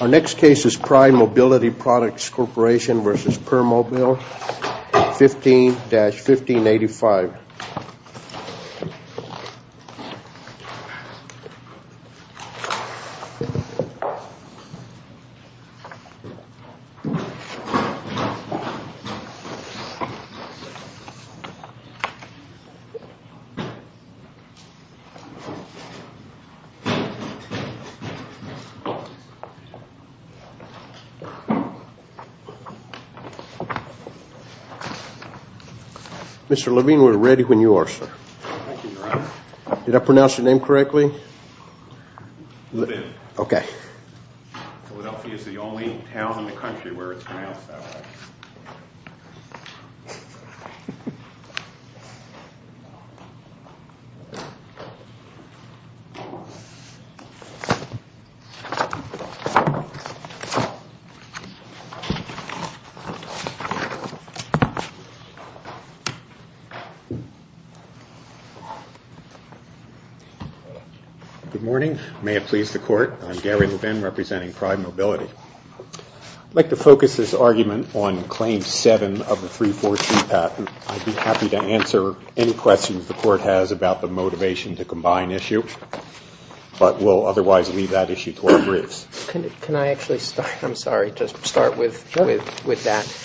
Our next case is Prime Mobility Products Corp. v. Permobil, 15-1585. Mr. Levine. Mr. Levine, we're ready. We're ready when you are, sir. Thank you, Your Honor. Did I pronounce your name correctly? You did. Okay. Philadelphia is the only town in the country where it's pronounced that way. Good morning. May it please the Court. I'm Gary Levine representing Prime Mobility. I'd like to focus this argument on Claim 7 of the 3-4-2 patent. I'd be happy to answer any questions the Court has about the motivation to combine issue, but we'll otherwise leave that issue to our briefs. Can I actually start? I'm sorry. Just start with that.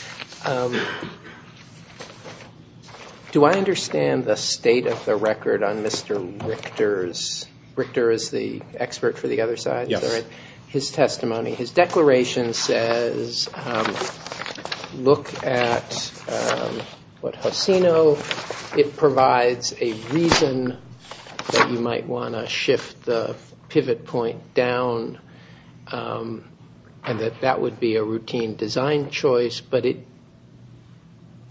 Do I understand the state of the record on Mr. Richter's – Richter is the expert for the other side? Yes. Okay. I'm not sure whether it's his testimony. His declaration says, look at what Hosino – it provides a reason that you might want to shift the pivot point down and that that would be a routine design choice, but it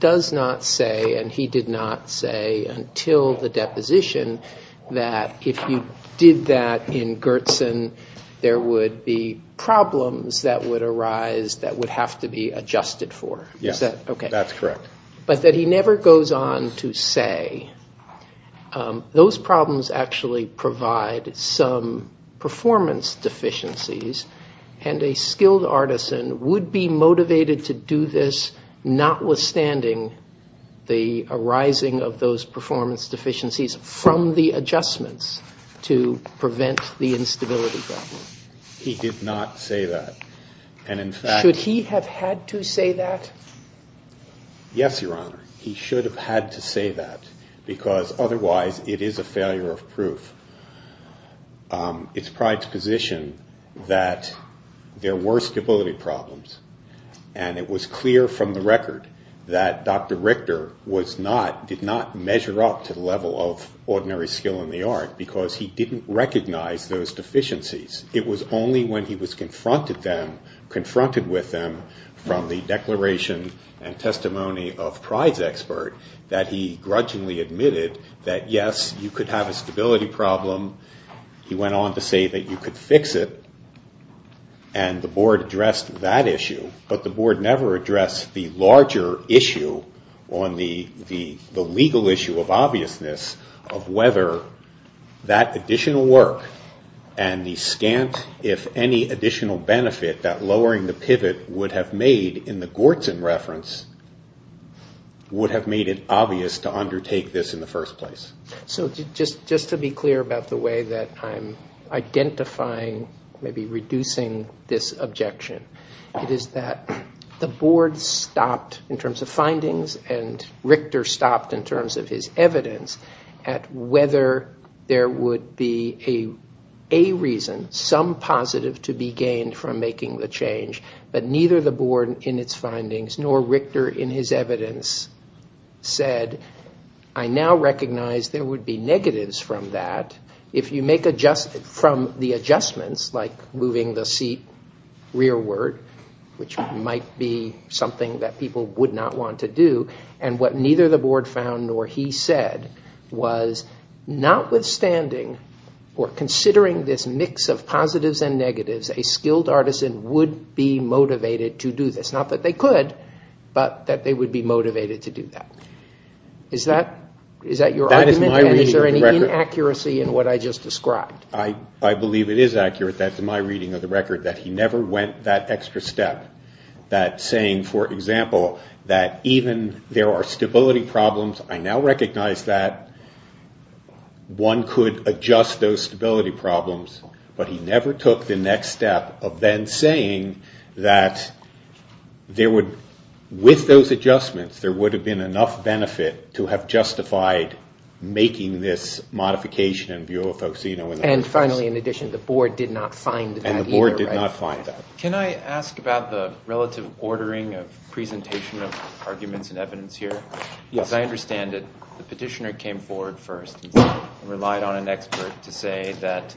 does not say, and he did not say until the deposition, that if you did that in Gertson, there would be problems that would arise that would have to be adjusted for. Yes. Is that okay? That's correct. But that he never goes on to say those problems actually provide some performance deficiencies and a skilled artisan would be motivated to do this notwithstanding the arising of those performance deficiencies from the adjustments to prevent the instability problem. He did not say that. And in fact – Should he have had to say that? Yes, Your Honor. He should have had to say that because otherwise it is a failure of proof. It's Pride's position that there were stability problems and it was clear from the record that Dr. Richter was not – did not measure up to the level of ordinary skill in the art because he didn't recognize those deficiencies. It was only when he was confronted with them from the declaration and testimony of Pride's expert that he grudgingly admitted that yes, you could have a stability problem. He went on to say that you could fix it and the Board addressed that issue. But the Board never addressed the larger issue on the legal issue of obviousness of whether that additional work and the scant, if any, additional benefit that lowering the pivot would have made in the Gortzen reference would have made it obvious to undertake this in the first place. So just to be clear about the way that I'm identifying, maybe reducing this objection, it is that the Board stopped in terms of findings and Richter stopped in terms of his evidence at whether there would be a reason, some positive to be gained from making the change, but neither the Board in its findings nor Richter in his evidence said, I now recognize there would be negatives from that. If you make adjustments from the adjustments like moving the seat rearward, which might be something that people would not want to do, and what neither the Board found nor he said was notwithstanding or considering this mix of positives and negatives, a skilled artisan would be motivated to do this. Not that they could, but that they would be motivated to do that. Is that your argument? And is there any inaccuracy in what I just described? I believe it is accurate that, to my reading of the record, that he never went that extra step that saying, for example, that even there are stability problems, I now recognize that, one could adjust those stability problems, but he never took the next step of then saying that there would, with those adjustments, there would have been enough benefit to have justified making this modification in view of Faucino. And finally, in addition, the Board did not find that either, right? And the Board did not find that. Can I ask about the relative ordering of presentation of arguments and evidence here? Yes. As I understand it, the petitioner came forward first and relied on an expert to say that,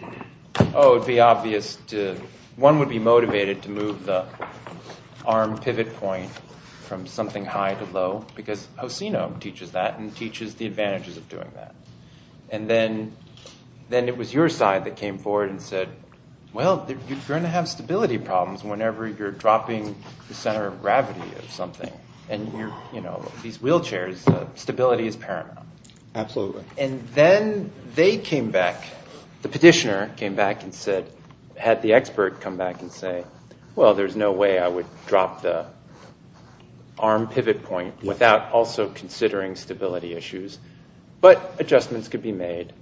oh, it would be obvious to, one would be motivated to move the arm pivot point from something high to low because Faucino teaches that and teaches the advantages of doing that. And then it was your side that came forward and said, well, you're going to have stability problems whenever you're dropping the center of gravity of something. And, you know, these wheelchairs, stability is paramount. Absolutely. And then they came back, the petitioner came back and said, had the expert come back and say, well, there's no way I would drop the arm pivot point without also considering stability issues. But adjustments could be made.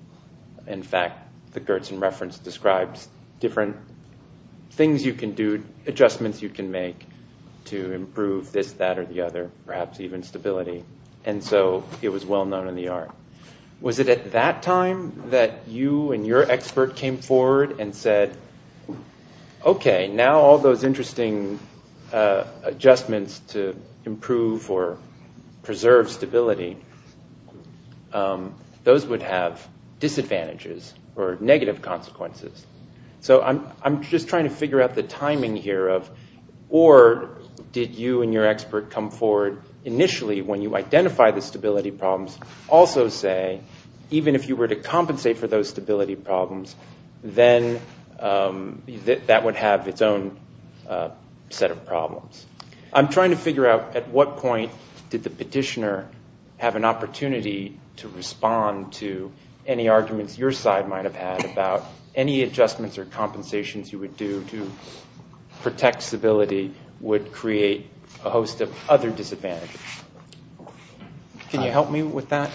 In fact, the Gertsen reference describes different things you can do, different adjustments you can make to improve this, that, or the other, perhaps even stability. And so it was well known in the art. Was it at that time that you and your expert came forward and said, okay, now all those interesting adjustments to improve or preserve stability, those would have disadvantages or negative consequences. So I'm just trying to figure out the timing here of, or did you and your expert come forward initially when you identified the stability problems, also say, even if you were to compensate for those stability problems, then that would have its own set of problems. I'm trying to figure out at what point did the petitioner have an opportunity to respond to any arguments your side might have had about any adjustments or compensations you would do to protect stability would create a host of other disadvantages. Can you help me with that?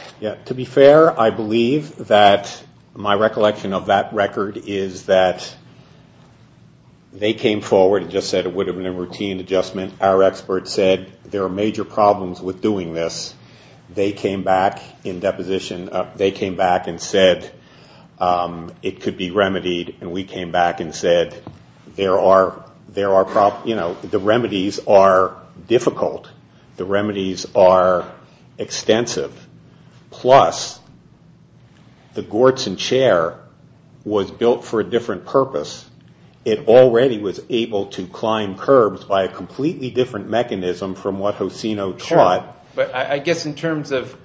To be fair, I believe that my recollection of that record is that they came forward and just said it would have been a routine adjustment. Our expert said there are major problems with doing this. They came back in deposition. They came back and said it could be remedied. And we came back and said there are problems. The remedies are difficult. The remedies are extensive. Plus, the Gortzen Chair was built for a different purpose. It already was able to climb curbs by a completely different mechanism from what Hosino taught. But I guess in terms of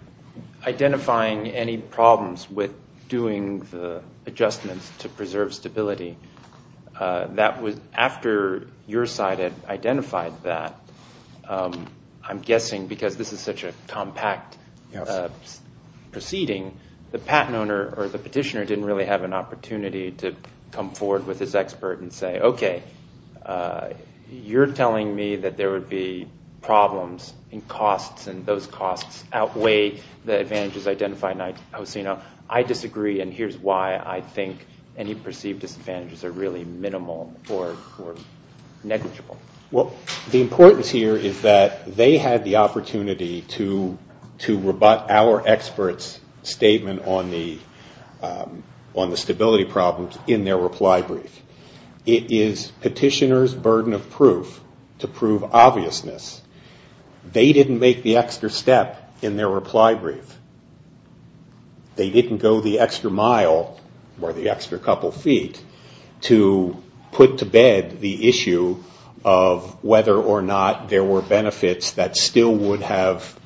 identifying any problems with doing the adjustments to preserve stability, after your side had identified that, I'm guessing because this is such a compact proceeding, the patent owner or the petitioner didn't really have an opportunity to come forward with his expert and say, okay, you're telling me that there would be problems in costs and those costs outweigh the advantages identified in Hosino. I disagree, and here's why I think any perceived disadvantages are really minimal or negligible. Well, the importance here is that they had the opportunity to rebut our expert's statement on the stability problems in their reply brief. It is petitioner's burden of proof to prove obviousness. They didn't make the extra step in their reply brief. They didn't go the extra mile or the extra couple feet to put to bed the issue of whether or not there were benefits that still would have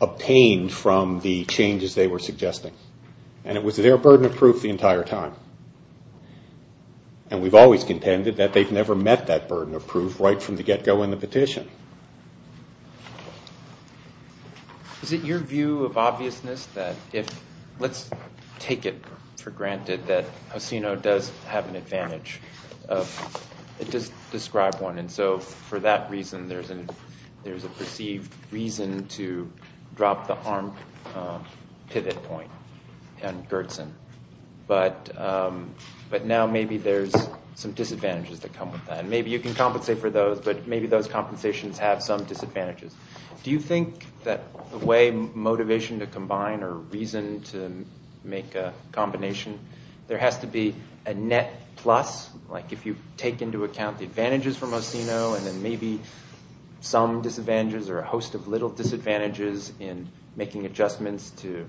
obtained from the changes they were suggesting. And it was their burden of proof the entire time. And we've always contended that they've never met that burden of proof right from the get-go in the petition. Is it your view of obviousness that if, let's take it for granted that Hosino does have an advantage of, it does describe one, and so for that reason there's a perceived reason to drop the arm pivot point on Gertson. But now maybe there's some disadvantages that come with that. Maybe you can compensate for those, but maybe those compensations have some disadvantages. Do you think that the way motivation to combine or reason to make a combination, there has to be a net plus? Like if you take into account the advantages from Hosino and then maybe some disadvantages or a host of little disadvantages in making adjustments to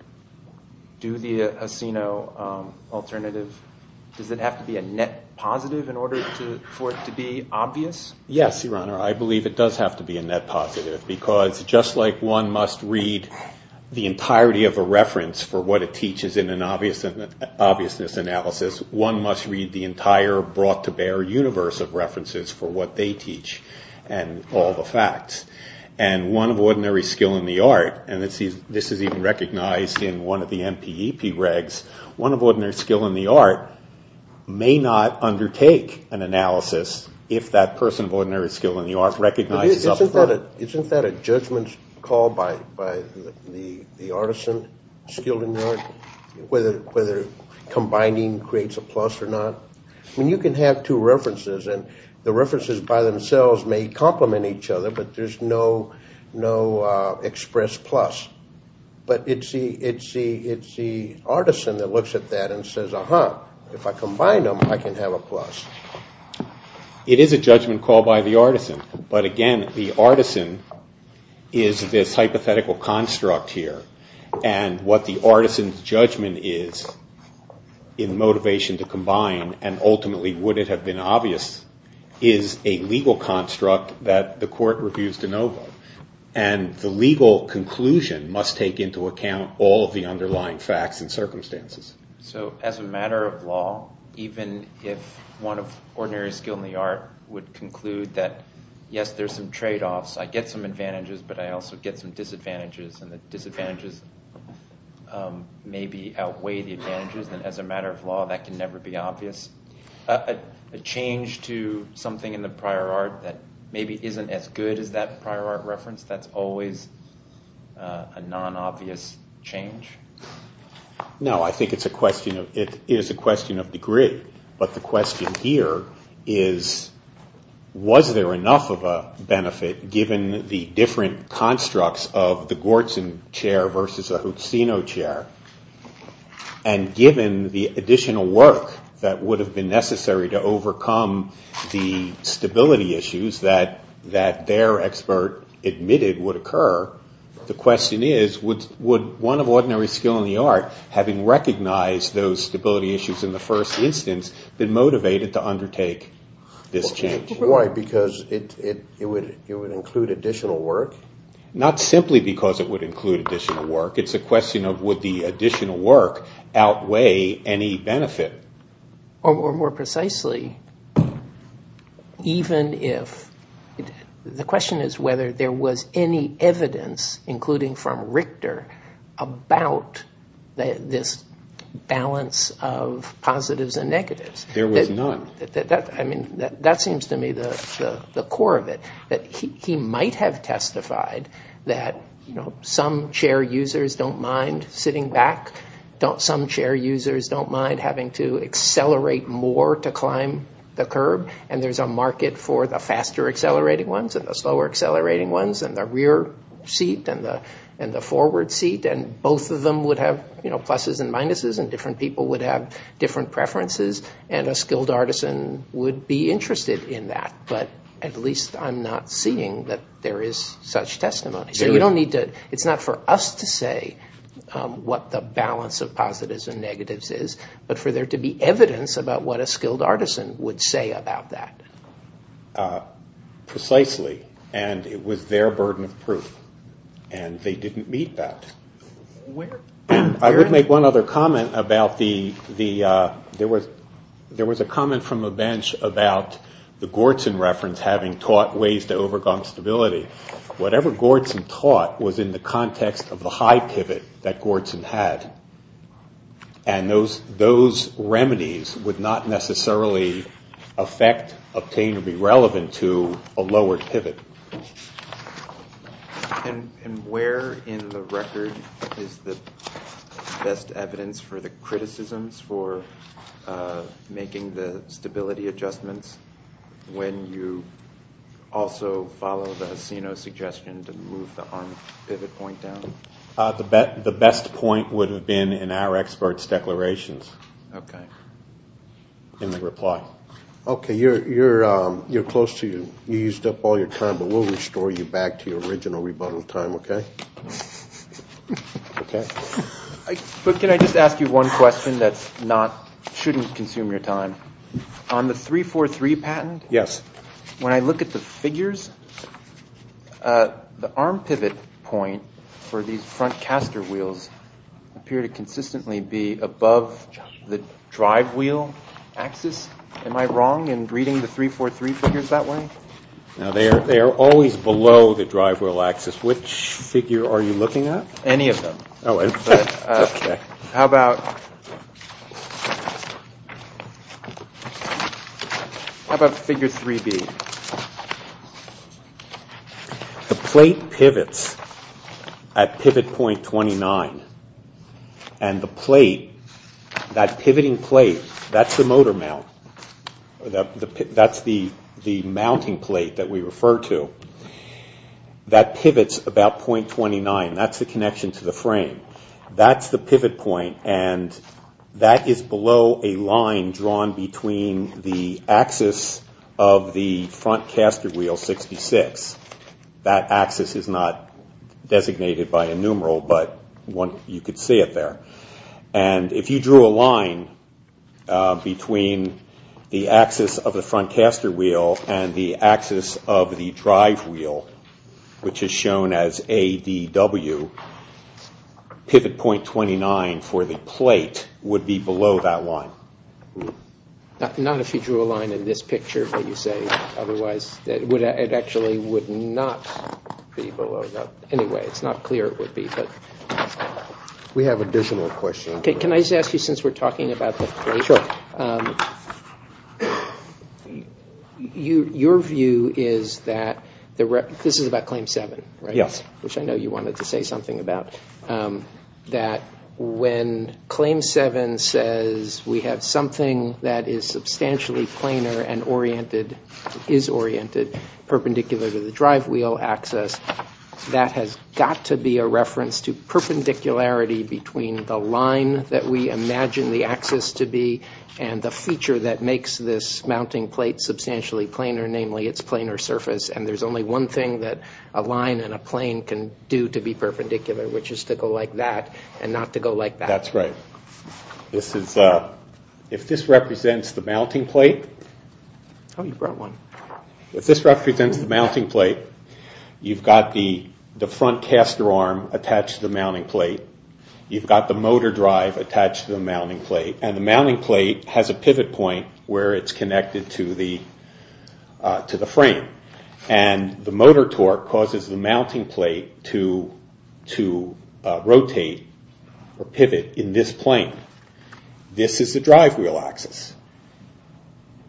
do the Hosino alternative, does it have to be a net positive in order for it to be obvious? Yes, Your Honor, I believe it does have to be a net positive because just like one must read the entirety of a reference for what it teaches in an obviousness analysis, one must read the entire brought-to-bear universe of references for what they teach and all the facts. And one of ordinary skill in the art, and this is even recognized in one of the MPEP regs, one of ordinary skill in the art may not undertake an analysis if that person of ordinary skill in the art recognizes up front. Isn't that a judgment call by the artisan skilled in the art, whether combining creates a plus or not? I mean, you can have two references and the references by themselves may complement each other, but there's no express plus. But it's the artisan that looks at that and says, uh-huh, if I combine them, I can have a plus. It is a judgment call by the artisan, but again, the artisan is this hypothetical construct here and what the artisan's judgment is in motivation to combine and ultimately would it have been obvious is a legal construct that the court refused to know about. And the legal conclusion must take into account all of the underlying facts and circumstances. So as a matter of law, even if one of ordinary skill in the art would conclude that, yes, there's some trade-offs, I get some advantages, but I also get some disadvantages, and the disadvantages maybe outweigh the advantages. And as a matter of law, that can never be obvious. A change to something in the prior art that maybe isn't as good as that prior art reference, that's always a non-obvious change? No, I think it's a question of degree. But the question here is, was there enough of a benefit, given the different constructs of the Gortzon chair versus the Huccino chair? And given the additional work that would have been necessary to overcome the stability issues that their expert admitted would occur, the question is, would one of ordinary skill in the art, having recognized those stability issues in the first instance, been motivated to undertake this change? Why? Because it would include additional work? Not simply because it would include additional work. It's a question of, would the additional work outweigh any benefit? Or more precisely, even if, the question is whether there was any evidence, including from Richter, about this balance of positives and negatives. There was none. That seems to me the core of it. He might have testified that some chair users don't mind sitting back, some chair users don't mind having to accelerate more to climb the curb, and there's a market for the faster accelerating ones and the slower accelerating ones, and the rear seat and the forward seat, and both of them would have pluses and minuses, and different people would have different preferences, and a skilled artisan would be interested in that. But at least I'm not seeing that there is such testimony. It's not for us to say what the balance of positives and negatives is, but for there to be evidence about what a skilled artisan would say about that. Precisely, and it was their burden of proof, and they didn't meet that. I would make one other comment about the, there was a comment from a bench about the Gortzon reference having taught ways to overcome stability. Whatever Gortzon taught was in the context of the high pivot that Gortzon had, and those remedies would not necessarily affect, obtain, or be relevant to a lowered pivot. And where in the record is the best evidence for the criticisms for making the stability adjustments when you also follow the Asino suggestion to move the arm pivot point down? The best point would have been in our expert's declarations. Okay. In the reply. Okay, you're close to, you used up all your time, but we'll restore you back to your original rebuttal time, okay? Okay. But can I just ask you one question that's not, shouldn't consume your time? On the 343 patent, when I look at the figures, the arm pivot point for these front caster wheels appear to consistently be above the drive wheel axis. Am I wrong in reading the 343 figures that way? No, they are always below the drive wheel axis. Which figure are you looking at? Any of them. Okay. How about figure 3B? The plate pivots at pivot point 29, and the plate, that pivoting plate, that's the motor mount. That's the mounting plate that we refer to. That pivots about point 29. That's the connection to the frame. That's the pivot point, and that is below a line drawn between the axis of the front caster wheel 66. That axis is not designated by a numeral, but you could see it there. And if you drew a line between the axis of the front caster wheel and the axis of the drive wheel, which is shown as ADW, pivot point 29 for the plate would be below that line. Not if you drew a line in this picture, but you say otherwise. It actually would not be below that. Anyway, it's not clear it would be. We have additional questions. Can I just ask you, since we're talking about the plate, your view is that this is about claim 7, right? Yes. Which I know you wanted to say something about. That when claim 7 says we have something that is substantially planar and oriented, perpendicular to the drive wheel axis, that has got to be a reference to perpendicularity between the line that we imagine the axis to be and the feature that makes this mounting plate substantially planar, namely its planar surface. And there's only one thing that a line and a plane can do to be perpendicular, which is to go like that and not to go like that. That's right. If this represents the mounting plate, you've got the front caster arm attached to the mounting plate. You've got the motor drive attached to the mounting plate. And the mounting plate has a pivot point where it's connected to the frame. And the motor torque causes the mounting plate to rotate or pivot in this plane. This is the drive wheel axis.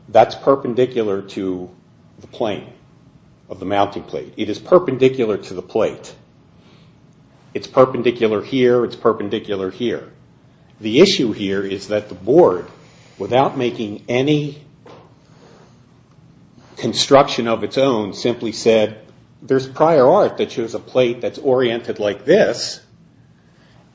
That's perpendicular to the plane of the mounting plate. It is perpendicular to the plate. It's perpendicular here. It's perpendicular here. The issue here is that the board, without making any construction of its own, simply said, there's prior art that shows a plate that's oriented like this.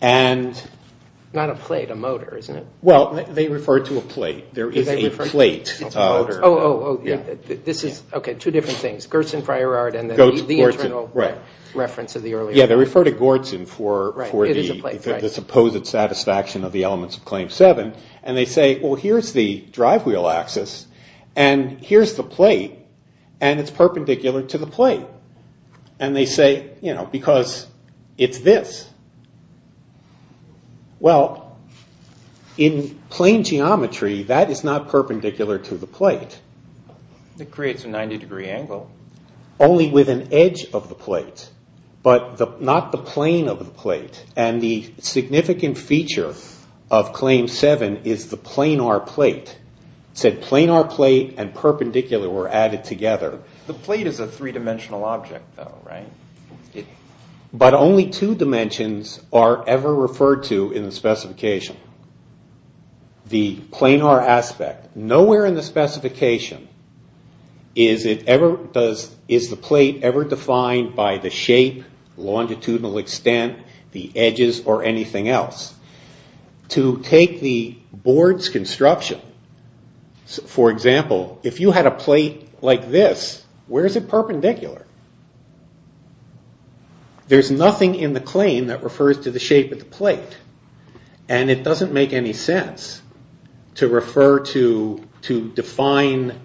Not a plate, a motor, isn't it? Well, they refer to a plate. There is a plate. Oh, okay, two different things. Gerson prior art and the internal reference of the earlier. Yeah, they refer to Gerson for the supposed satisfaction of the elements of Claim 7. And they say, well, here's the drive wheel axis. And here's the plate. And it's perpendicular to the plate. And they say, you know, because it's this. Well, in plane geometry, that is not perpendicular to the plate. It creates a 90 degree angle. Only with an edge of the plate. But not the plane of the plate. And the significant feature of Claim 7 is the planar plate. It said planar plate and perpendicular were added together. The plate is a three-dimensional object, though, right? But only two dimensions are ever referred to in the specification. The planar aspect. Nowhere in the specification is the plate ever defined by the shape, longitudinal extent, the edges, or anything else. To take the board's construction, for example, if you had a plate like this, where is it perpendicular? There's nothing in the claim that refers to the shape of the plate. And it doesn't make any sense to refer to define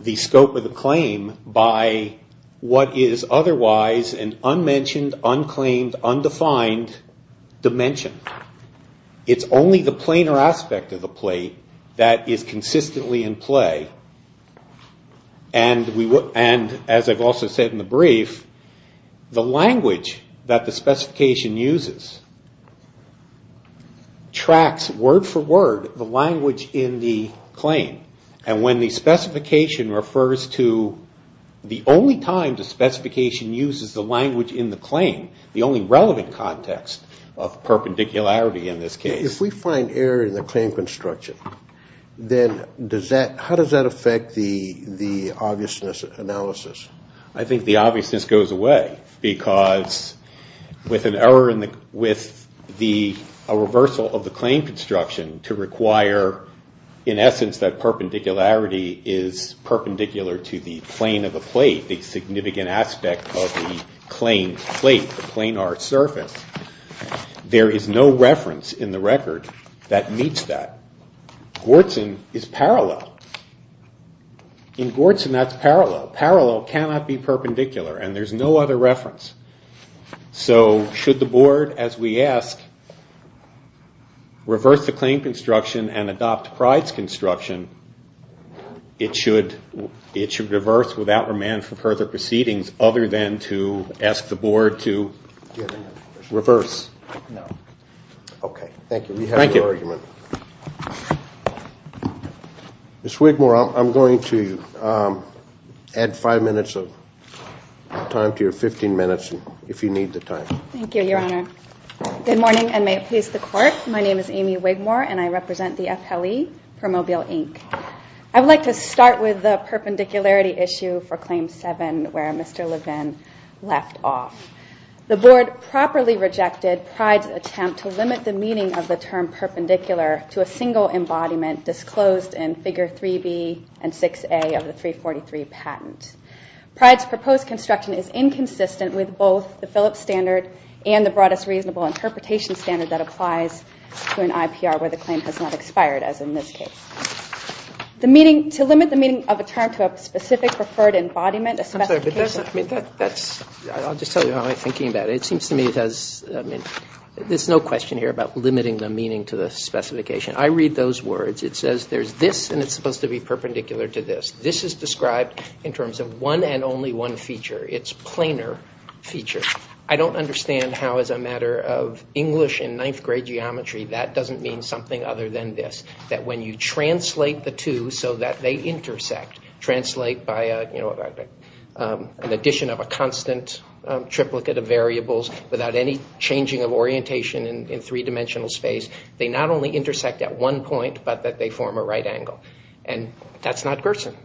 the scope of the claim by what is otherwise an unmentioned, unclaimed, undefined dimension. It's only the planar aspect of the plate that is consistently in play. And as I've also said in the brief, the language that the specification uses tracks word for word the language in the claim. And when the specification refers to the only time the specification uses the language in the claim, the only relevant context of perpendicularity in this case. If we find error in the claim construction, then how does that affect the obviousness analysis? I think the obviousness goes away because with a reversal of the claim construction to require, in essence, that perpendicularity is perpendicular to the plane of the plate, the significant aspect of the claim plate, the planar surface, there is no reference in the record that meets that. Gortzen is parallel. In Gortzen, that's parallel. Parallel cannot be perpendicular, and there's no other reference. So should the board, as we ask, reverse the claim construction and adopt Pryde's construction, it should reverse without remand for further proceedings other than to ask the board to reverse? No. Okay. Thank you. We have your argument. Thank you. Ms. Wigmore, I'm going to add five minutes of time to your 15 minutes if you need the time. Thank you, Your Honor. Good morning, and may it please the Court. My name is Amy Wigmore, and I represent the FLE for Mobile, Inc. I would like to start with the perpendicularity issue for Claim 7 where Mr. Levin left off. The board properly rejected Pryde's attempt to limit the meaning of the term perpendicular to a single embodiment disclosed in Figure 3B and 6A of the 343 patent. Pryde's proposed construction is inconsistent with both the Phillips standard and the broadest reasonable interpretation standard that applies to an IPR where the claim has not expired as in this case. To limit the meaning of a term to a specific referred embodiment, a specification I'm sorry, but that's, I'll just tell you how I'm thinking about it. It seems to me it has, I mean, there's no question here about limiting the meaning to the specification. I read those words. It says there's this, and it's supposed to be perpendicular to this. This is described in terms of one and only one feature. It's planar feature. I don't understand how as a matter of English and ninth grade geometry that doesn't mean something other than this. That when you translate the two so that they intersect, translate by an addition of a constant triplicate of variables without any changing of orientation in three-dimensional space, they not only intersect at one point but that they form a right angle. And that's not Gerson.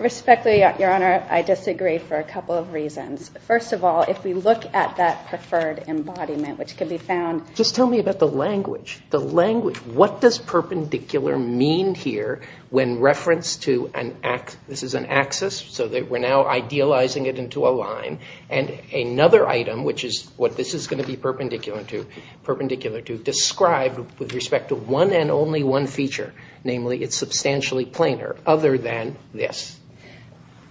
Respectfully, Your Honor, I disagree for a couple of reasons. First of all, if we look at that preferred embodiment, which can be found Just tell me about the language. The language. What does perpendicular mean here when referenced to an axis? This is an axis, so we're now idealizing it into a line. And another item, which is what this is going to be perpendicular to, described with respect to one and only one feature. Namely, it's substantially planar other than this.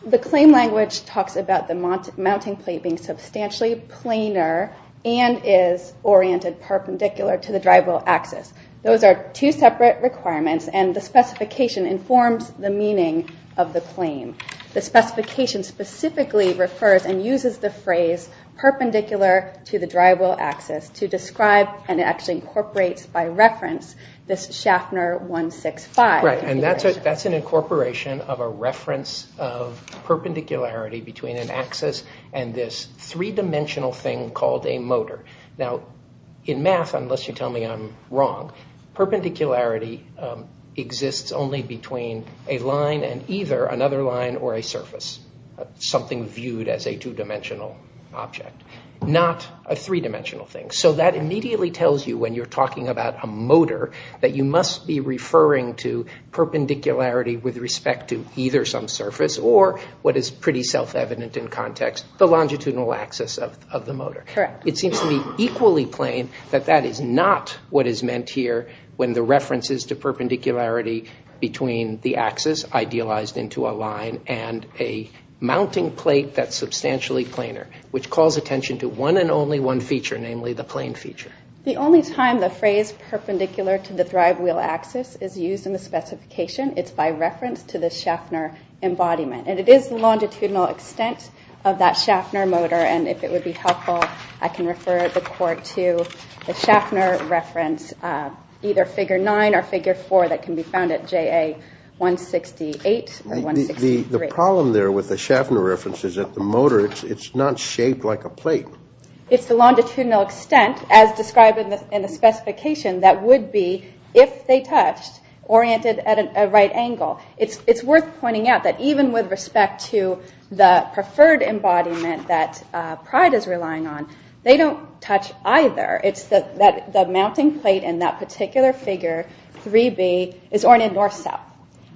The claim language talks about the mounting plate being substantially planar and is oriented perpendicular to the drive-wheel axis. Those are two separate requirements, and the specification informs the meaning of the claim. The specification specifically refers and uses the phrase perpendicular to the drive-wheel axis to describe and actually incorporates by reference this Schaffner 165. And that's an incorporation of a reference of perpendicularity between an axis and this three-dimensional thing called a motor. Now, in math, unless you tell me I'm wrong, perpendicularity exists only between a line and either another line or a surface, something viewed as a two-dimensional object, not a three-dimensional thing. So that immediately tells you when you're talking about a motor that you must be referring to perpendicularity with respect to either some surface or what is pretty self-evident in context, the longitudinal axis of the motor. Correct. It seems to be equally plain that that is not what is meant here when the reference is to perpendicularity between the axis idealized into a line and a mounting plate that's substantially planar, which calls attention to one and only one feature, namely the plane feature. The only time the phrase perpendicular to the drive-wheel axis is used in the specification, it's by reference to the Schaffner embodiment. And it is the longitudinal extent of that Schaffner motor, and if it would be helpful, I can refer the court to the Schaffner reference, either Figure 9 or Figure 4 that can be found at JA 168 or 163. The problem there with the Schaffner reference is that the motor, it's not shaped like a plate. It's the longitudinal extent, as described in the specification, that would be, if they touched, oriented at a right angle. It's worth pointing out that even with respect to the preferred embodiment that Pride is relying on, they don't touch either. It's the mounting plate in that particular figure, 3B, is oriented north-south.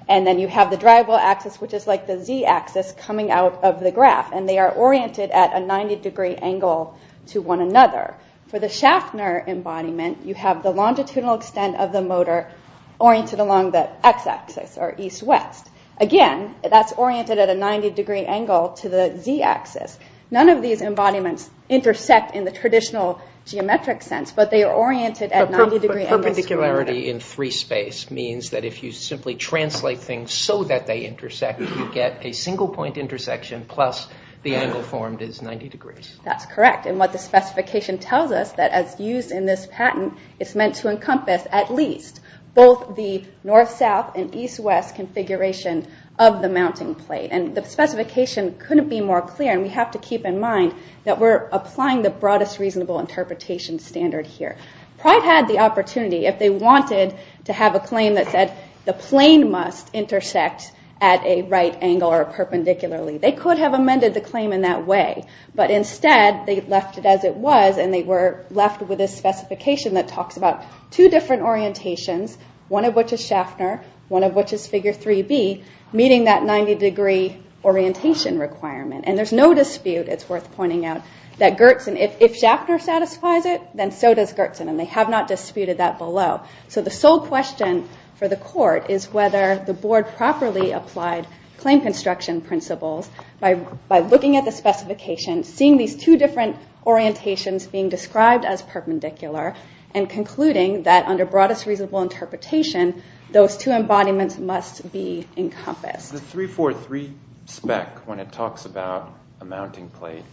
And then you have the drive-wheel axis, which is like the z-axis coming out of the graph, and they are oriented at a 90-degree angle to one another. For the Schaffner embodiment, you have the longitudinal extent of the motor oriented along the x-axis, or east-west. Again, that's oriented at a 90-degree angle to the z-axis. None of these embodiments intersect in the traditional geometric sense, but they are oriented at 90-degree angles. But perpendicularity in free space means that if you simply translate things so that they intersect, you get a single-point intersection, plus the angle formed is 90 degrees. That's correct, and what the specification tells us, that as used in this patent, it's meant to encompass at least both the north-south and east-west configuration of the mounting plate. And the specification couldn't be more clear, and we have to keep in mind that we're applying the broadest reasonable interpretation standard here. Pride had the opportunity, if they wanted to have a claim that said the plane must intersect at a right angle or perpendicularly. They could have amended the claim in that way, but instead, they left it as it was, and they were left with this specification that talks about two different orientations, one of which is Schaffner, one of which is Figure 3B, meeting that 90-degree orientation requirement. And there's no dispute, it's worth pointing out, that Gertzen, if Schaffner satisfies it, then so does Gertzen, and they have not disputed that below. So the sole question for the court is whether the board properly applied claim construction principles by looking at the specification, seeing these two different orientations being described as perpendicular, and concluding that under broadest reasonable interpretation, those two embodiments must be encompassed. The 343 spec, when it talks about a mounting plate,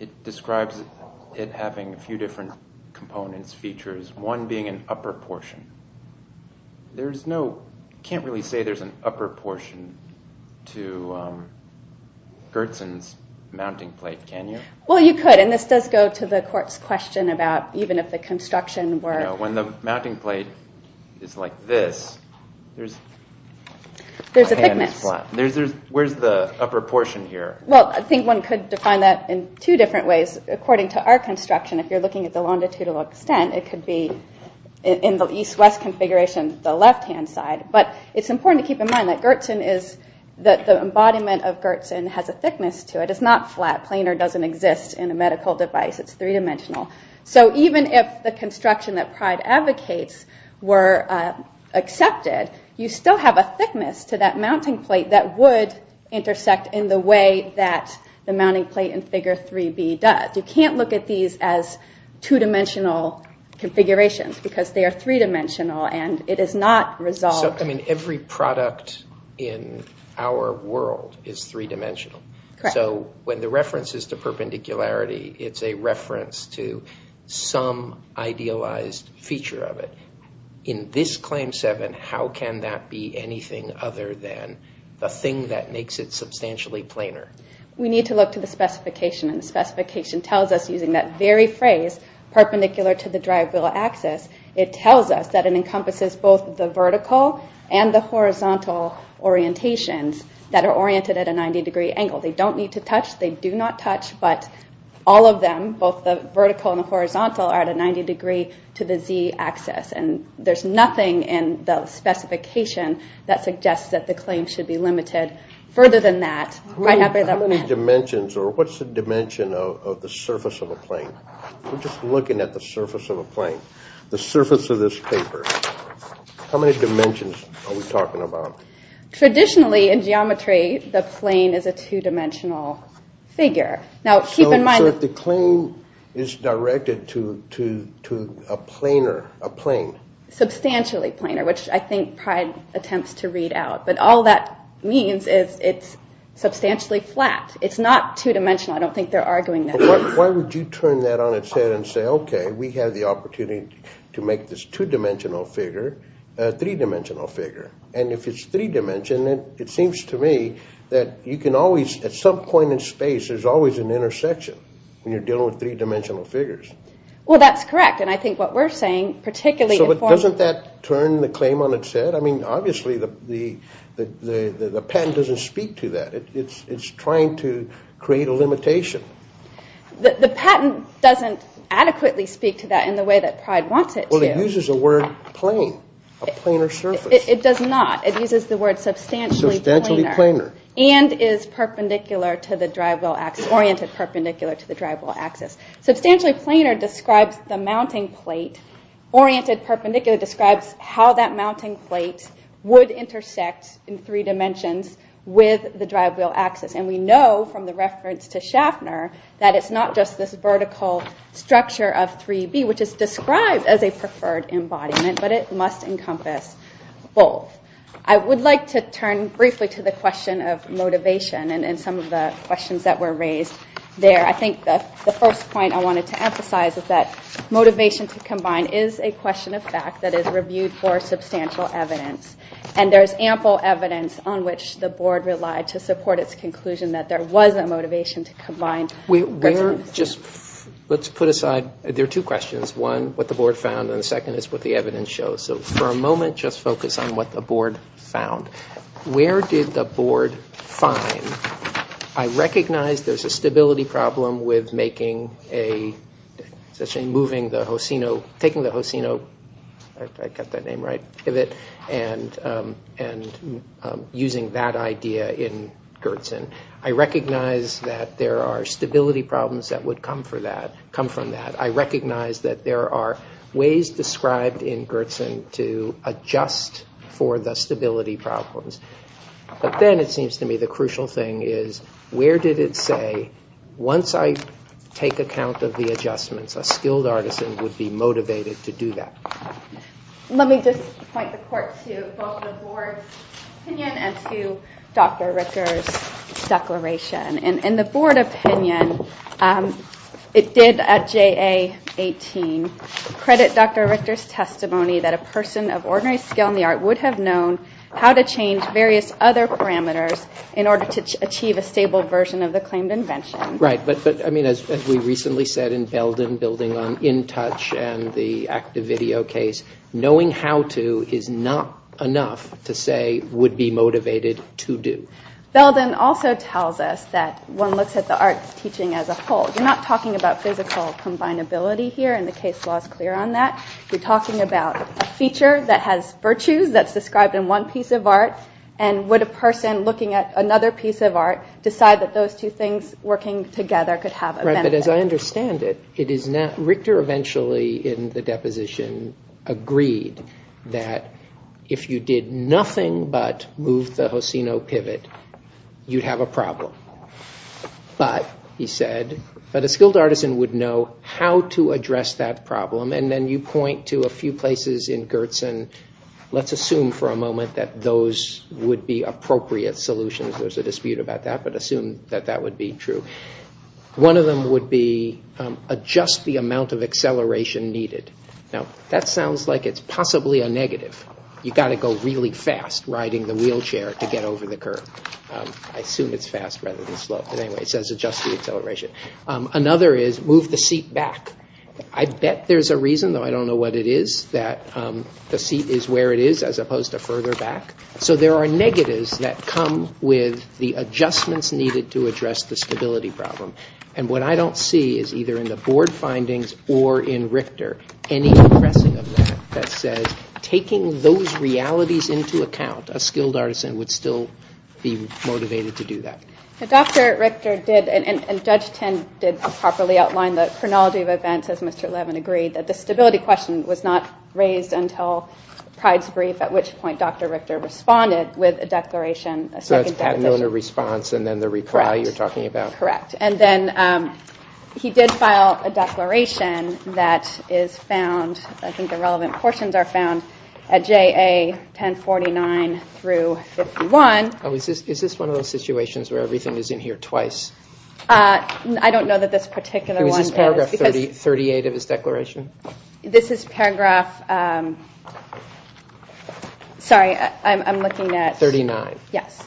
it describes it having a few different components, features, one being an upper portion. There's no, can't really say there's an upper portion to Gertzen's mounting plate, can you? Well, you could, and this does go to the court's question about even if the construction were... You know, when the mounting plate is like this, there's... There's a thickness. Where's the upper portion here? Well, I think one could define that in two different ways. According to our construction, if you're looking at the longitudinal extent, it could be in the east-west configuration, the left-hand side. But it's important to keep in mind that Gertzen is... The embodiment of Gertzen has a thickness to it. It's not flat. Planar doesn't exist in a medical device. It's three-dimensional. So even if the construction that Pride advocates were accepted, you still have a thickness to that mounting plate that would intersect in the way that the mounting plate in Figure 3B does. You can't look at these as two-dimensional configurations because they are three-dimensional, and it is not resolved... So, I mean, every product in our world is three-dimensional. Correct. So when the reference is to perpendicularity, it's a reference to some idealized feature of it. In this Claim 7, how can that be anything other than the thing that makes it substantially planar? We need to look to the specification, and the specification tells us, using that very phrase, perpendicular to the drive wheel axis, it tells us that it encompasses both the vertical and the horizontal orientations that are oriented at a 90-degree angle. They don't need to touch. They do not touch. But all of them, both the vertical and the horizontal, are at a 90 degree to the Z axis, and there's nothing in the specification that suggests that the claim should be limited further than that, right after that limit. How many dimensions, or what's the dimension of the surface of a plane? We're just looking at the surface of a plane, the surface of this paper. How many dimensions are we talking about? Traditionally, in geometry, the plane is a two-dimensional figure. Now, keep in mind... So if the claim is directed to a planar, a plane... Substantially planar, which I think Pride attempts to read out, but all that means is it's substantially flat. It's not two-dimensional. I don't think they're arguing that. Why would you turn that on its head and say, okay, we have the opportunity to make this two-dimensional figure a three-dimensional figure? And if it's three-dimensional, it seems to me that you can always, at some point in space, there's always an intersection when you're dealing with three-dimensional figures. Well, that's correct, and I think what we're saying, particularly... So doesn't that turn the claim on its head? I mean, obviously, the patent doesn't speak to that. It's trying to create a limitation. The patent doesn't adequately speak to that in the way that Pride wants it to. Well, it uses the word plane, a planar surface. It does not. It uses the word substantially planar. And is perpendicular to the drive-wheel axis, oriented perpendicular to the drive-wheel axis. Substantially planar describes the mounting plate. Oriented perpendicular describes how that mounting plate would intersect in three dimensions with the drive-wheel axis. And we know from the reference to Schaffner that it's not just this vertical structure of 3B, which is described as a preferred embodiment, but it must encompass both. I would like to turn briefly to the question of motivation and some of the questions that were raised there. I think the first point I wanted to emphasize is that motivation to combine is a question of fact that is reviewed for substantial evidence. And there's ample evidence on which the board relied to support its conclusion that there was a motivation to combine. Let's put aside... There are two questions. One, what the board found, and the second is what the evidence shows. So for a moment, just focus on what the board found. Where did the board find... I recognize there's a stability problem with making a... moving the Hosino... taking the Hosino... I got that name right... and using that idea in Gertsen. I recognize that there are stability problems that would come from that. I recognize that there are ways described in Gertsen to adjust for the stability problems. But then it seems to me the crucial thing is, where did it say, once I take account of the adjustments, a skilled artisan would be motivated to do that? Let me just point the court to both the board's opinion and to Dr. Richter's declaration. In the board opinion, it did, at JA18, credit Dr. Richter's testimony that a person of ordinary skill in the art would have known how to change various other parameters in order to achieve a stable version of the claimed invention. Right, but as we recently said in Belden, building on InTouch and the active video case, knowing how to is not enough to say would be motivated to do. Belden also tells us that one looks at the art's teaching as a whole. You're not talking about physical combinability here, and the case law is clear on that. You're talking about a feature that has virtues that's described in one piece of art, and would a person looking at another piece of art decide that those two things working together could have a benefit? Right, but as I understand it, Richter eventually, in the deposition, agreed that if you did nothing but move the Hosino pivot, you'd have a problem. But, he said, a skilled artisan would know how to address that problem, and then you point to a few places in Gertson. Let's assume for a moment that those would be appropriate solutions. There's a dispute about that, but assume that that would be true. One of them would be adjust the amount of acceleration needed. Now, that sounds like it's possibly a negative. You've got to go really fast riding the wheelchair to get over the curb. I assume it's fast rather than slow, but anyway, it says adjust the acceleration. Another is move the seat back. I bet there's a reason, though I don't know what it is, that the seat is where it is as opposed to further back. So, there are negatives that come with the adjustments needed to address the stability problem, and what I don't see is either in the board findings or in Richter any addressing of that that says taking those realities into account, a skilled artisan would still be motivated to do that. Dr. Richter did, and Judge Ten did properly outline the chronology of events, as Mr. Levin agreed, that the stability question was not raised until Pryde's brief, at which point Dr. Richter responded with a declaration. So, it's patent owner response and then the reply you're talking about? Correct. And then he did file a declaration that is found, I think the relevant portions are found, at JA 1049 through 51. Is this one of those situations where everything is in here twice? I don't know that this particular one is. Is this paragraph 38 of his declaration? This is paragraph... Sorry, I'm looking at... 39. Yes.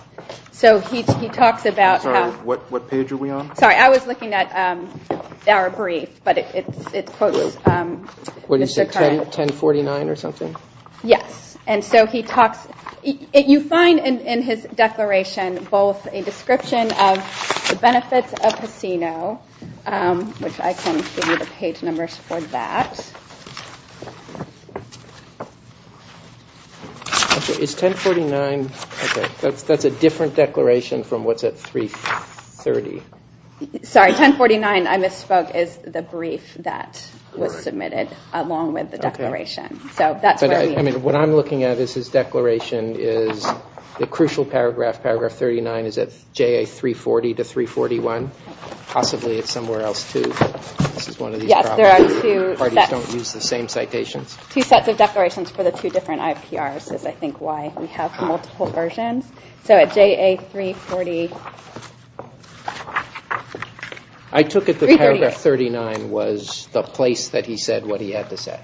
So, he talks about... I'm sorry, what page are we on? Sorry, I was looking at our brief, but it's... What did you say, 1049 or something? Yes. And so, he talks... You find in his declaration both a description of the benefits of casino, which I can give you the page numbers for that. Is 1049... That's a different declaration from what's at 330. Sorry, 1049, I misspoke, is the brief that was submitted along with the declaration. So, that's what I mean. I mean, what I'm looking at in his declaration is the crucial paragraph, paragraph 39, is at JA 340 to 341. Possibly it's somewhere else, too. This is one of these problems. Yes, there are two sets. Parties don't use the same citations. Two sets of declarations for the two different IPRs is, I think, why we have multiple versions. So, at JA 340... I took it that paragraph 39 was the place that he said what he had to say.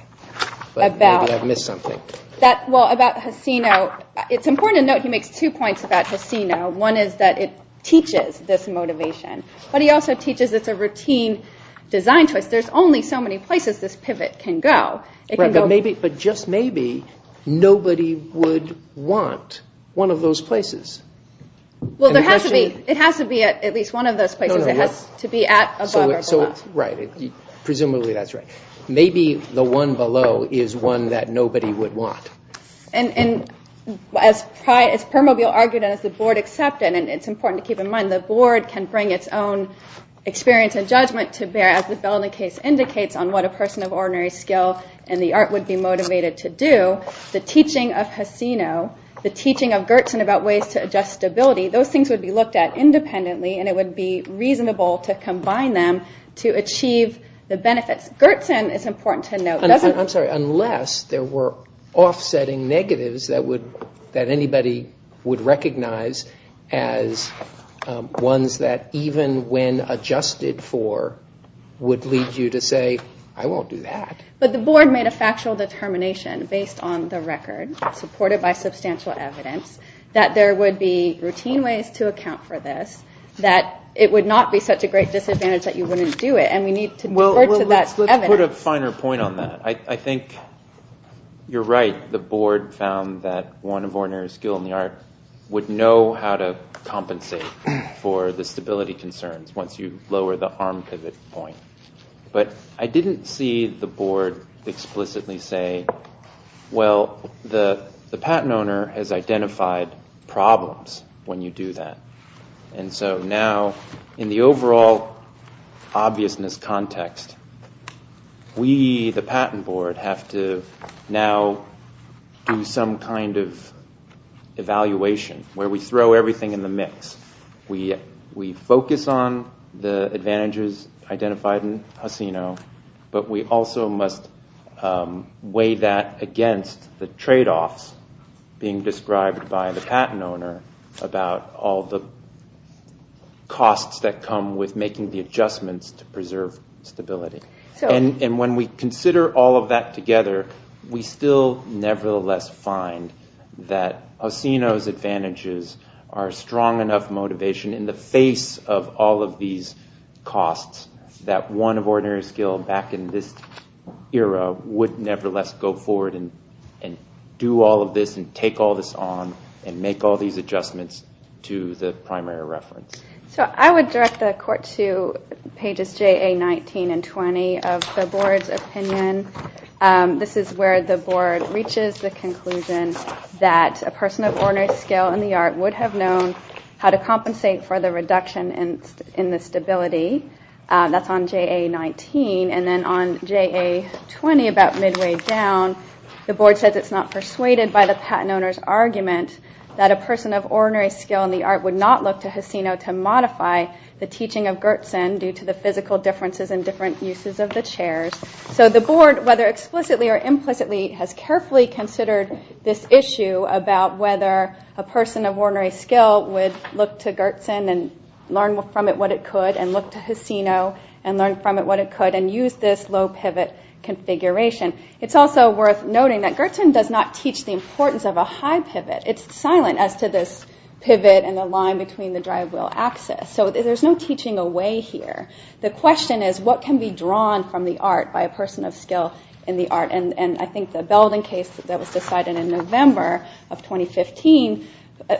But maybe I've missed something. Well, about casino, it's important to note he makes two points about casino. One is that it teaches this motivation. But he also teaches it's a routine design choice. There's only so many places this pivot can go. Right, but just maybe nobody would want one of those places. Well, it has to be at least one of those places. It has to be at above or below. Right. Presumably that's right. Maybe the one below is one that nobody would want. And as Permobil argued and as the board accepted, and it's important to keep in mind, the board can bring its own experience and judgment to bear as the Belden case indicates on what a person of ordinary skill in the art would be motivated to do. The teaching of casino, the teaching of Gertsen about ways to adjust stability, those things would be looked at independently and it would be reasonable to combine them to achieve the benefits. Gertsen is important to note, doesn't... I'm sorry, unless there were offsetting negatives that anybody would recognize as ones that even when adjusted for would lead you to say, I won't do that. But the board made a factual determination based on the record supported by substantial evidence that there would be routine ways to account for this, that it would not be such a great disadvantage that you wouldn't do it and we need to defer to that evidence. Well, let's put a finer point on that. I think you're right. The board found that one of ordinary skill in the art would know how to compensate for the stability concerns once you lower the arm pivot point. But I didn't see the board explicitly say, well, the patent owner has identified problems when you do that. And so now, in the overall obviousness context, we, the patent board, have to now do some kind of evaluation where we throw everything in the mix. We focus on the advantages identified in Hacino, but we also must weigh that against the trade-offs being described by the patent owner about all the costs that come with making the adjustments to preserve stability. And when we consider all of that together, we still nevertheless find that Hacino's advantages are strong enough motivation in the face of all of these costs that one of ordinary skill back in this era would nevertheless go forward and do all of this and take all this on and make all these adjustments to the primary reference. So I would direct the court to pages JA19 and 20 of the board's opinion. This is where the board reaches the conclusion that a person of ordinary skill in the art would have known how to compensate for the reduction in the stability. That's on JA19. And then on JA20, about midway down, the board says it's not persuaded by the patent owner's argument that a person of ordinary skill in the art would not look to Hacino to modify the teaching of Gertsen due to the physical differences and different uses of the chairs. So the board, whether explicitly or implicitly, has carefully considered this issue about whether a person of ordinary skill would look to Gertsen and learn from it what it could and look to Hacino and learn from it what it could and use this low pivot configuration. It's also worth noting that Gertsen does not teach the importance of a high pivot. It's silent as to this pivot and the line between the drive wheel axis. So there's no teaching away here. The question is what can be drawn from the art by a person of skill in the art? And I think the Belden case that was decided in November of 2015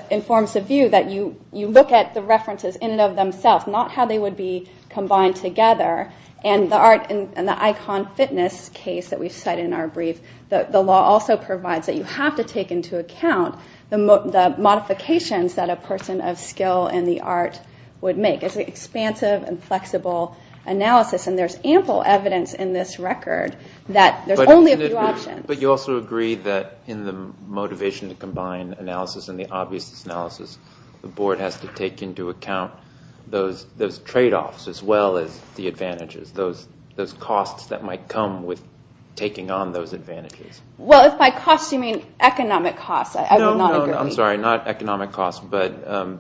informs the view that you look at the references in and of themselves, not how they would be combined together. And the art and the icon fitness case that we cite in our brief, the law also provides that you have to take into account the modifications that a person of skill in the art would make. It's an expansive and flexible analysis and there's ample evidence in this record that there's only a few options. But you also agree that in the motivation to combine analysis and the obviousness analysis, the board has to take into account those trade-offs as well as the advantages, those costs that might come with taking on those advantages. Well, if by costs you mean economic costs, I would not agree. No, no, no, I'm sorry. Not economic costs, but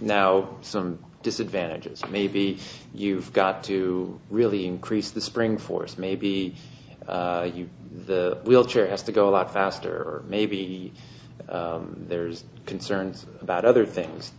now some disadvantages. Maybe you've got to really increase the spring force. Maybe the wheelchair has to go a lot faster. Or maybe there's concerns about other things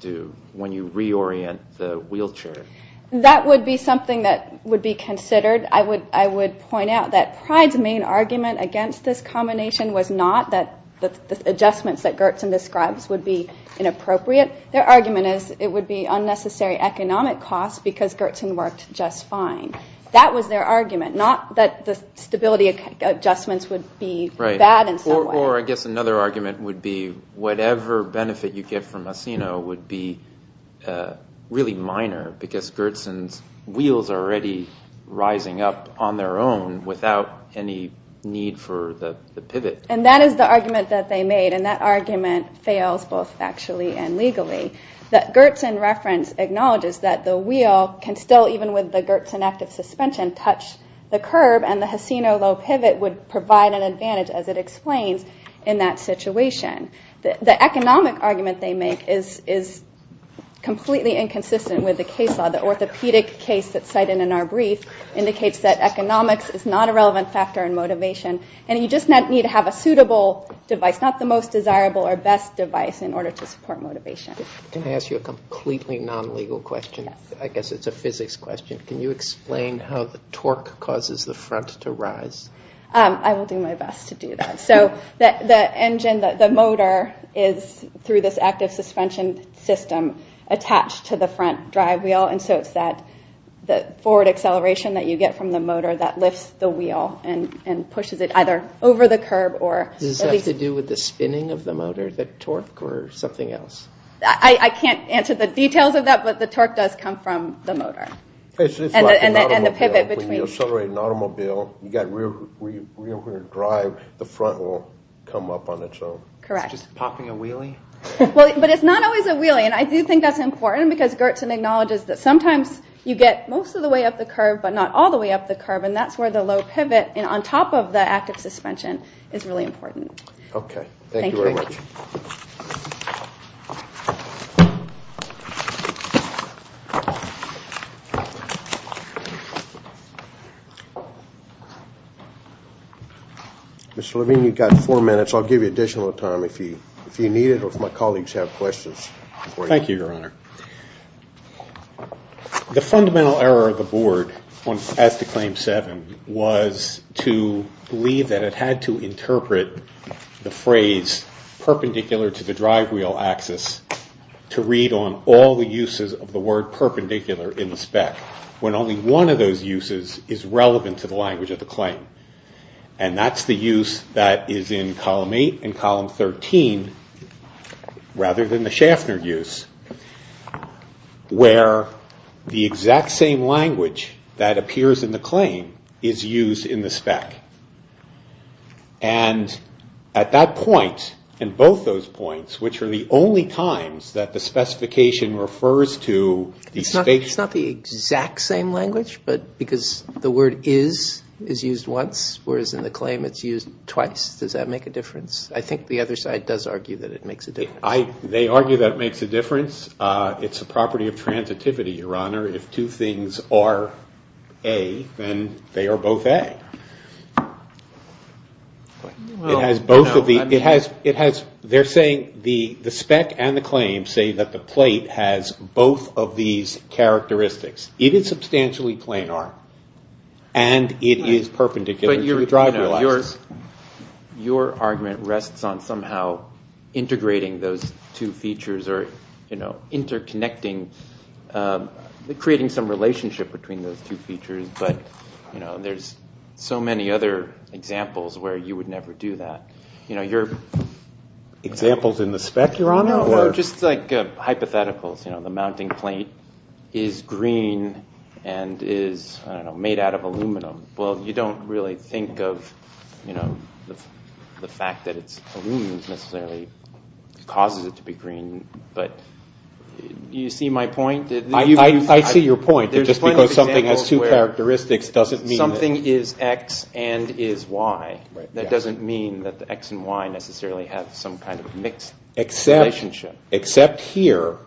when you reorient the wheelchair. That would be something that would be considered. I would point out that Pride's main argument against this combination was not that the adjustments that Gertsen describes would be inappropriate. Their argument is it would be unnecessary economic costs because Gertsen worked just fine. That was their argument, not that the stability adjustments would be bad in some way. Or I guess another argument would be whatever benefit you get from Asino would be really minor because Gertsen's wheels are already rising up on their own without any need for the pivot. And that is the argument that they made, and that argument fails both factually and legally. Gertsen's reference acknowledges that the wheel can still, even with the Gertsen active suspension, touch the curb and the Asino low pivot would provide an advantage as it explains in that situation. The economic argument they make is completely inconsistent with the case law. The orthopedic case that's cited in our brief indicates that economics is not a relevant factor in motivation. And you just need to have a suitable device, not the most desirable or best device in order to support motivation. Can I ask you a completely non-legal question? I guess it's a physics question. Can you explain how the torque causes the front to rise? I will do my best to do that. So the engine, the motor, is, through this active suspension system, attached to the front drive wheel and so it's that forward acceleration that you get from the motor that lifts the wheel and pushes it either over the curb or... Does this have to do with the spinning of the motor, the torque, or something else? I can't answer the details of that, but the torque does come from the motor. And the pivot between... It's like an automobile. When you accelerate an automobile, you've got rear-wheel drive, the front will come up on its own. Correct. It's just popping a wheelie? But it's not always a wheelie, and I do think that's important because Gertsen acknowledges that sometimes you get most of the way up the curb, but not all the way up the curb, and that's where the low pivot on top of the active suspension is really important. Okay. Thank you very much. Thank you. Mr. Levine, you've got four minutes. I'll give you additional time if you need it or if my colleagues have questions. Thank you, Your Honor. The fundamental error of the Board as to Claim 7 was to believe that it had to interpret the phrase perpendicular to the drive wheel axis to read on all the uses of the word perpendicular in the spec when only one of those uses is relevant to the language of the claim. And that's the use that is in Column 8 and Column 13 rather than the Schaffner use where the exact same language that appears in the claim is used in the spec. And at that point in both those points which are the only times that the specification refers to the spec... It's not the exact same language but because the word is used once whereas in the claim it's used twice. Does that make a difference? I think the other side does argue that it makes a difference. They argue that it makes a difference. It's a property of transitivity, Your Honor. If two things are A then they are both A. It has both of the... It has... They're saying the spec and the claim say that the plate has both of these characteristics. It is substantially planar and it is perpendicular to the driver. Your argument rests on somehow integrating those two features or interconnecting creating some relationship between those two features but there's so many other examples where you would never do that. Your... Examples in the spec, Your Honor? Just hypotheticals. The mounting plate is green and is made out of aluminum. You don't really think of the fact that it's aluminum necessarily causes it to be green but do you see my point? I see your point just because something has those two characteristics doesn't mean... Something is X and is Y. That doesn't mean that the X and Y necessarily have some kind of mixed relationship. Except here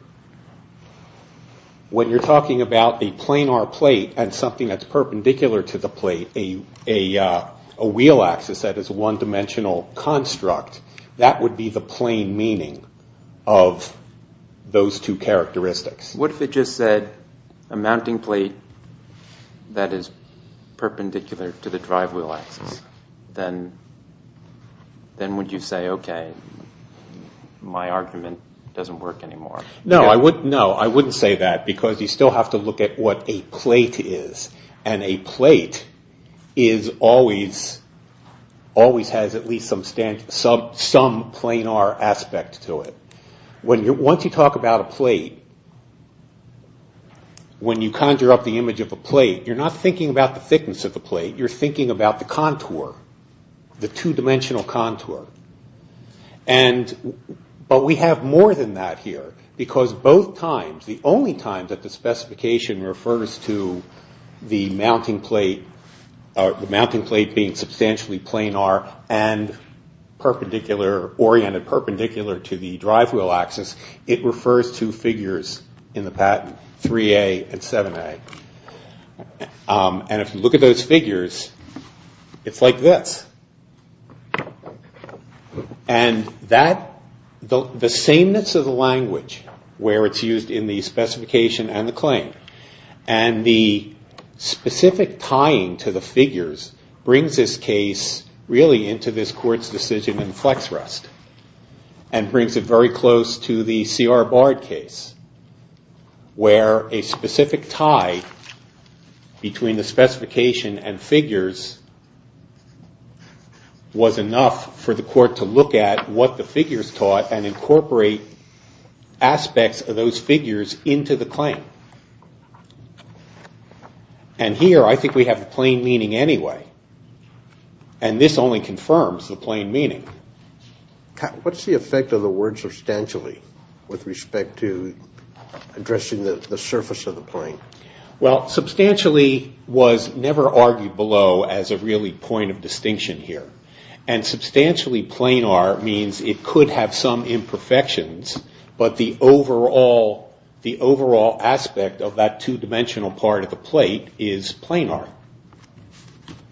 when you're talking about a planar plate and something that's perpendicular to the plate a wheel axis that is one-dimensional construct that would be the plain meaning of those two characteristics. What if it just said a mounting plate that is perpendicular to the drive wheel axis? Then would you say okay my argument doesn't work anymore? No, I wouldn't say that because you still have to look at what a plate is and a plate is always has at least some planar aspect to it. Once you talk about a plate when you conjure up the image of a plate you're not thinking about the thickness of the plate you're thinking about the contour. The two-dimensional contour. But we have more than that here because both times the only time that the specification refers to the mounting plate being substantially planar and perpendicular oriented perpendicular to the drive wheel axis it refers to figures in the patent 3A and 7A. And if you look at those figures it's like this. And that the sameness of the language where it's used in the specification and the claim and the specific tying to the figures brings this case really into this court's decision and brings it very close to the C.R. Bard case where a specific tie between the specification and figures was enough for the court to look at what the figures taught and incorporate aspects of those figures into the claim. And here I think we have plain meaning anyway and this only confirms the plain meaning. What's the effect of the word substantially with respect to addressing the surface of the plain? Well, substantially was never argued below as a really point of distinction here. And substantially planar means it could have some imperfections but the surface still be a surface.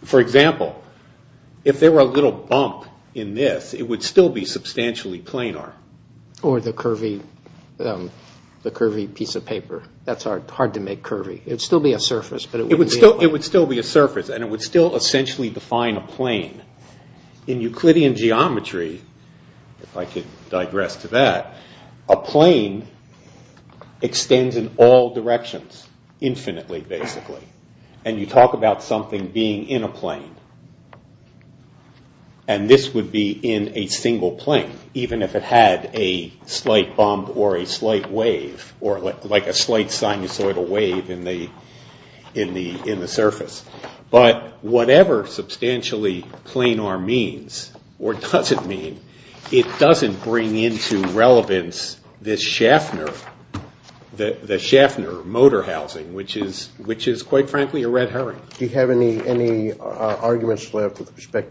For example, if there were a little bump in this it would still be substantially planar. Or the curvy piece of paper. That's hard to make curvy. It would still be a surface. It would still be a surface and it would still be a plane. And this would be in a single plane. Even if it had a slight bump or a slight wave or like a slight sinusoidal wave in the surface. But whatever substantially planar means or doesn't mean, it doesn't bring into relevance this Schaffner, the Schaffner motor housing which is quite frankly a red carpet. It's a red carpet. And it's not quite as carpet as it should be. It's a red carpet. And it's not quite as a red carpet as it should be. quite as a red carpet as it should be. And the Schaffner motor housing is a red carpet, and it's not just a red carpet, it's red carpet. housing is a red carpet, and it's not just a red carpet, it's a red carpet, and red carpet, it's a red carpet.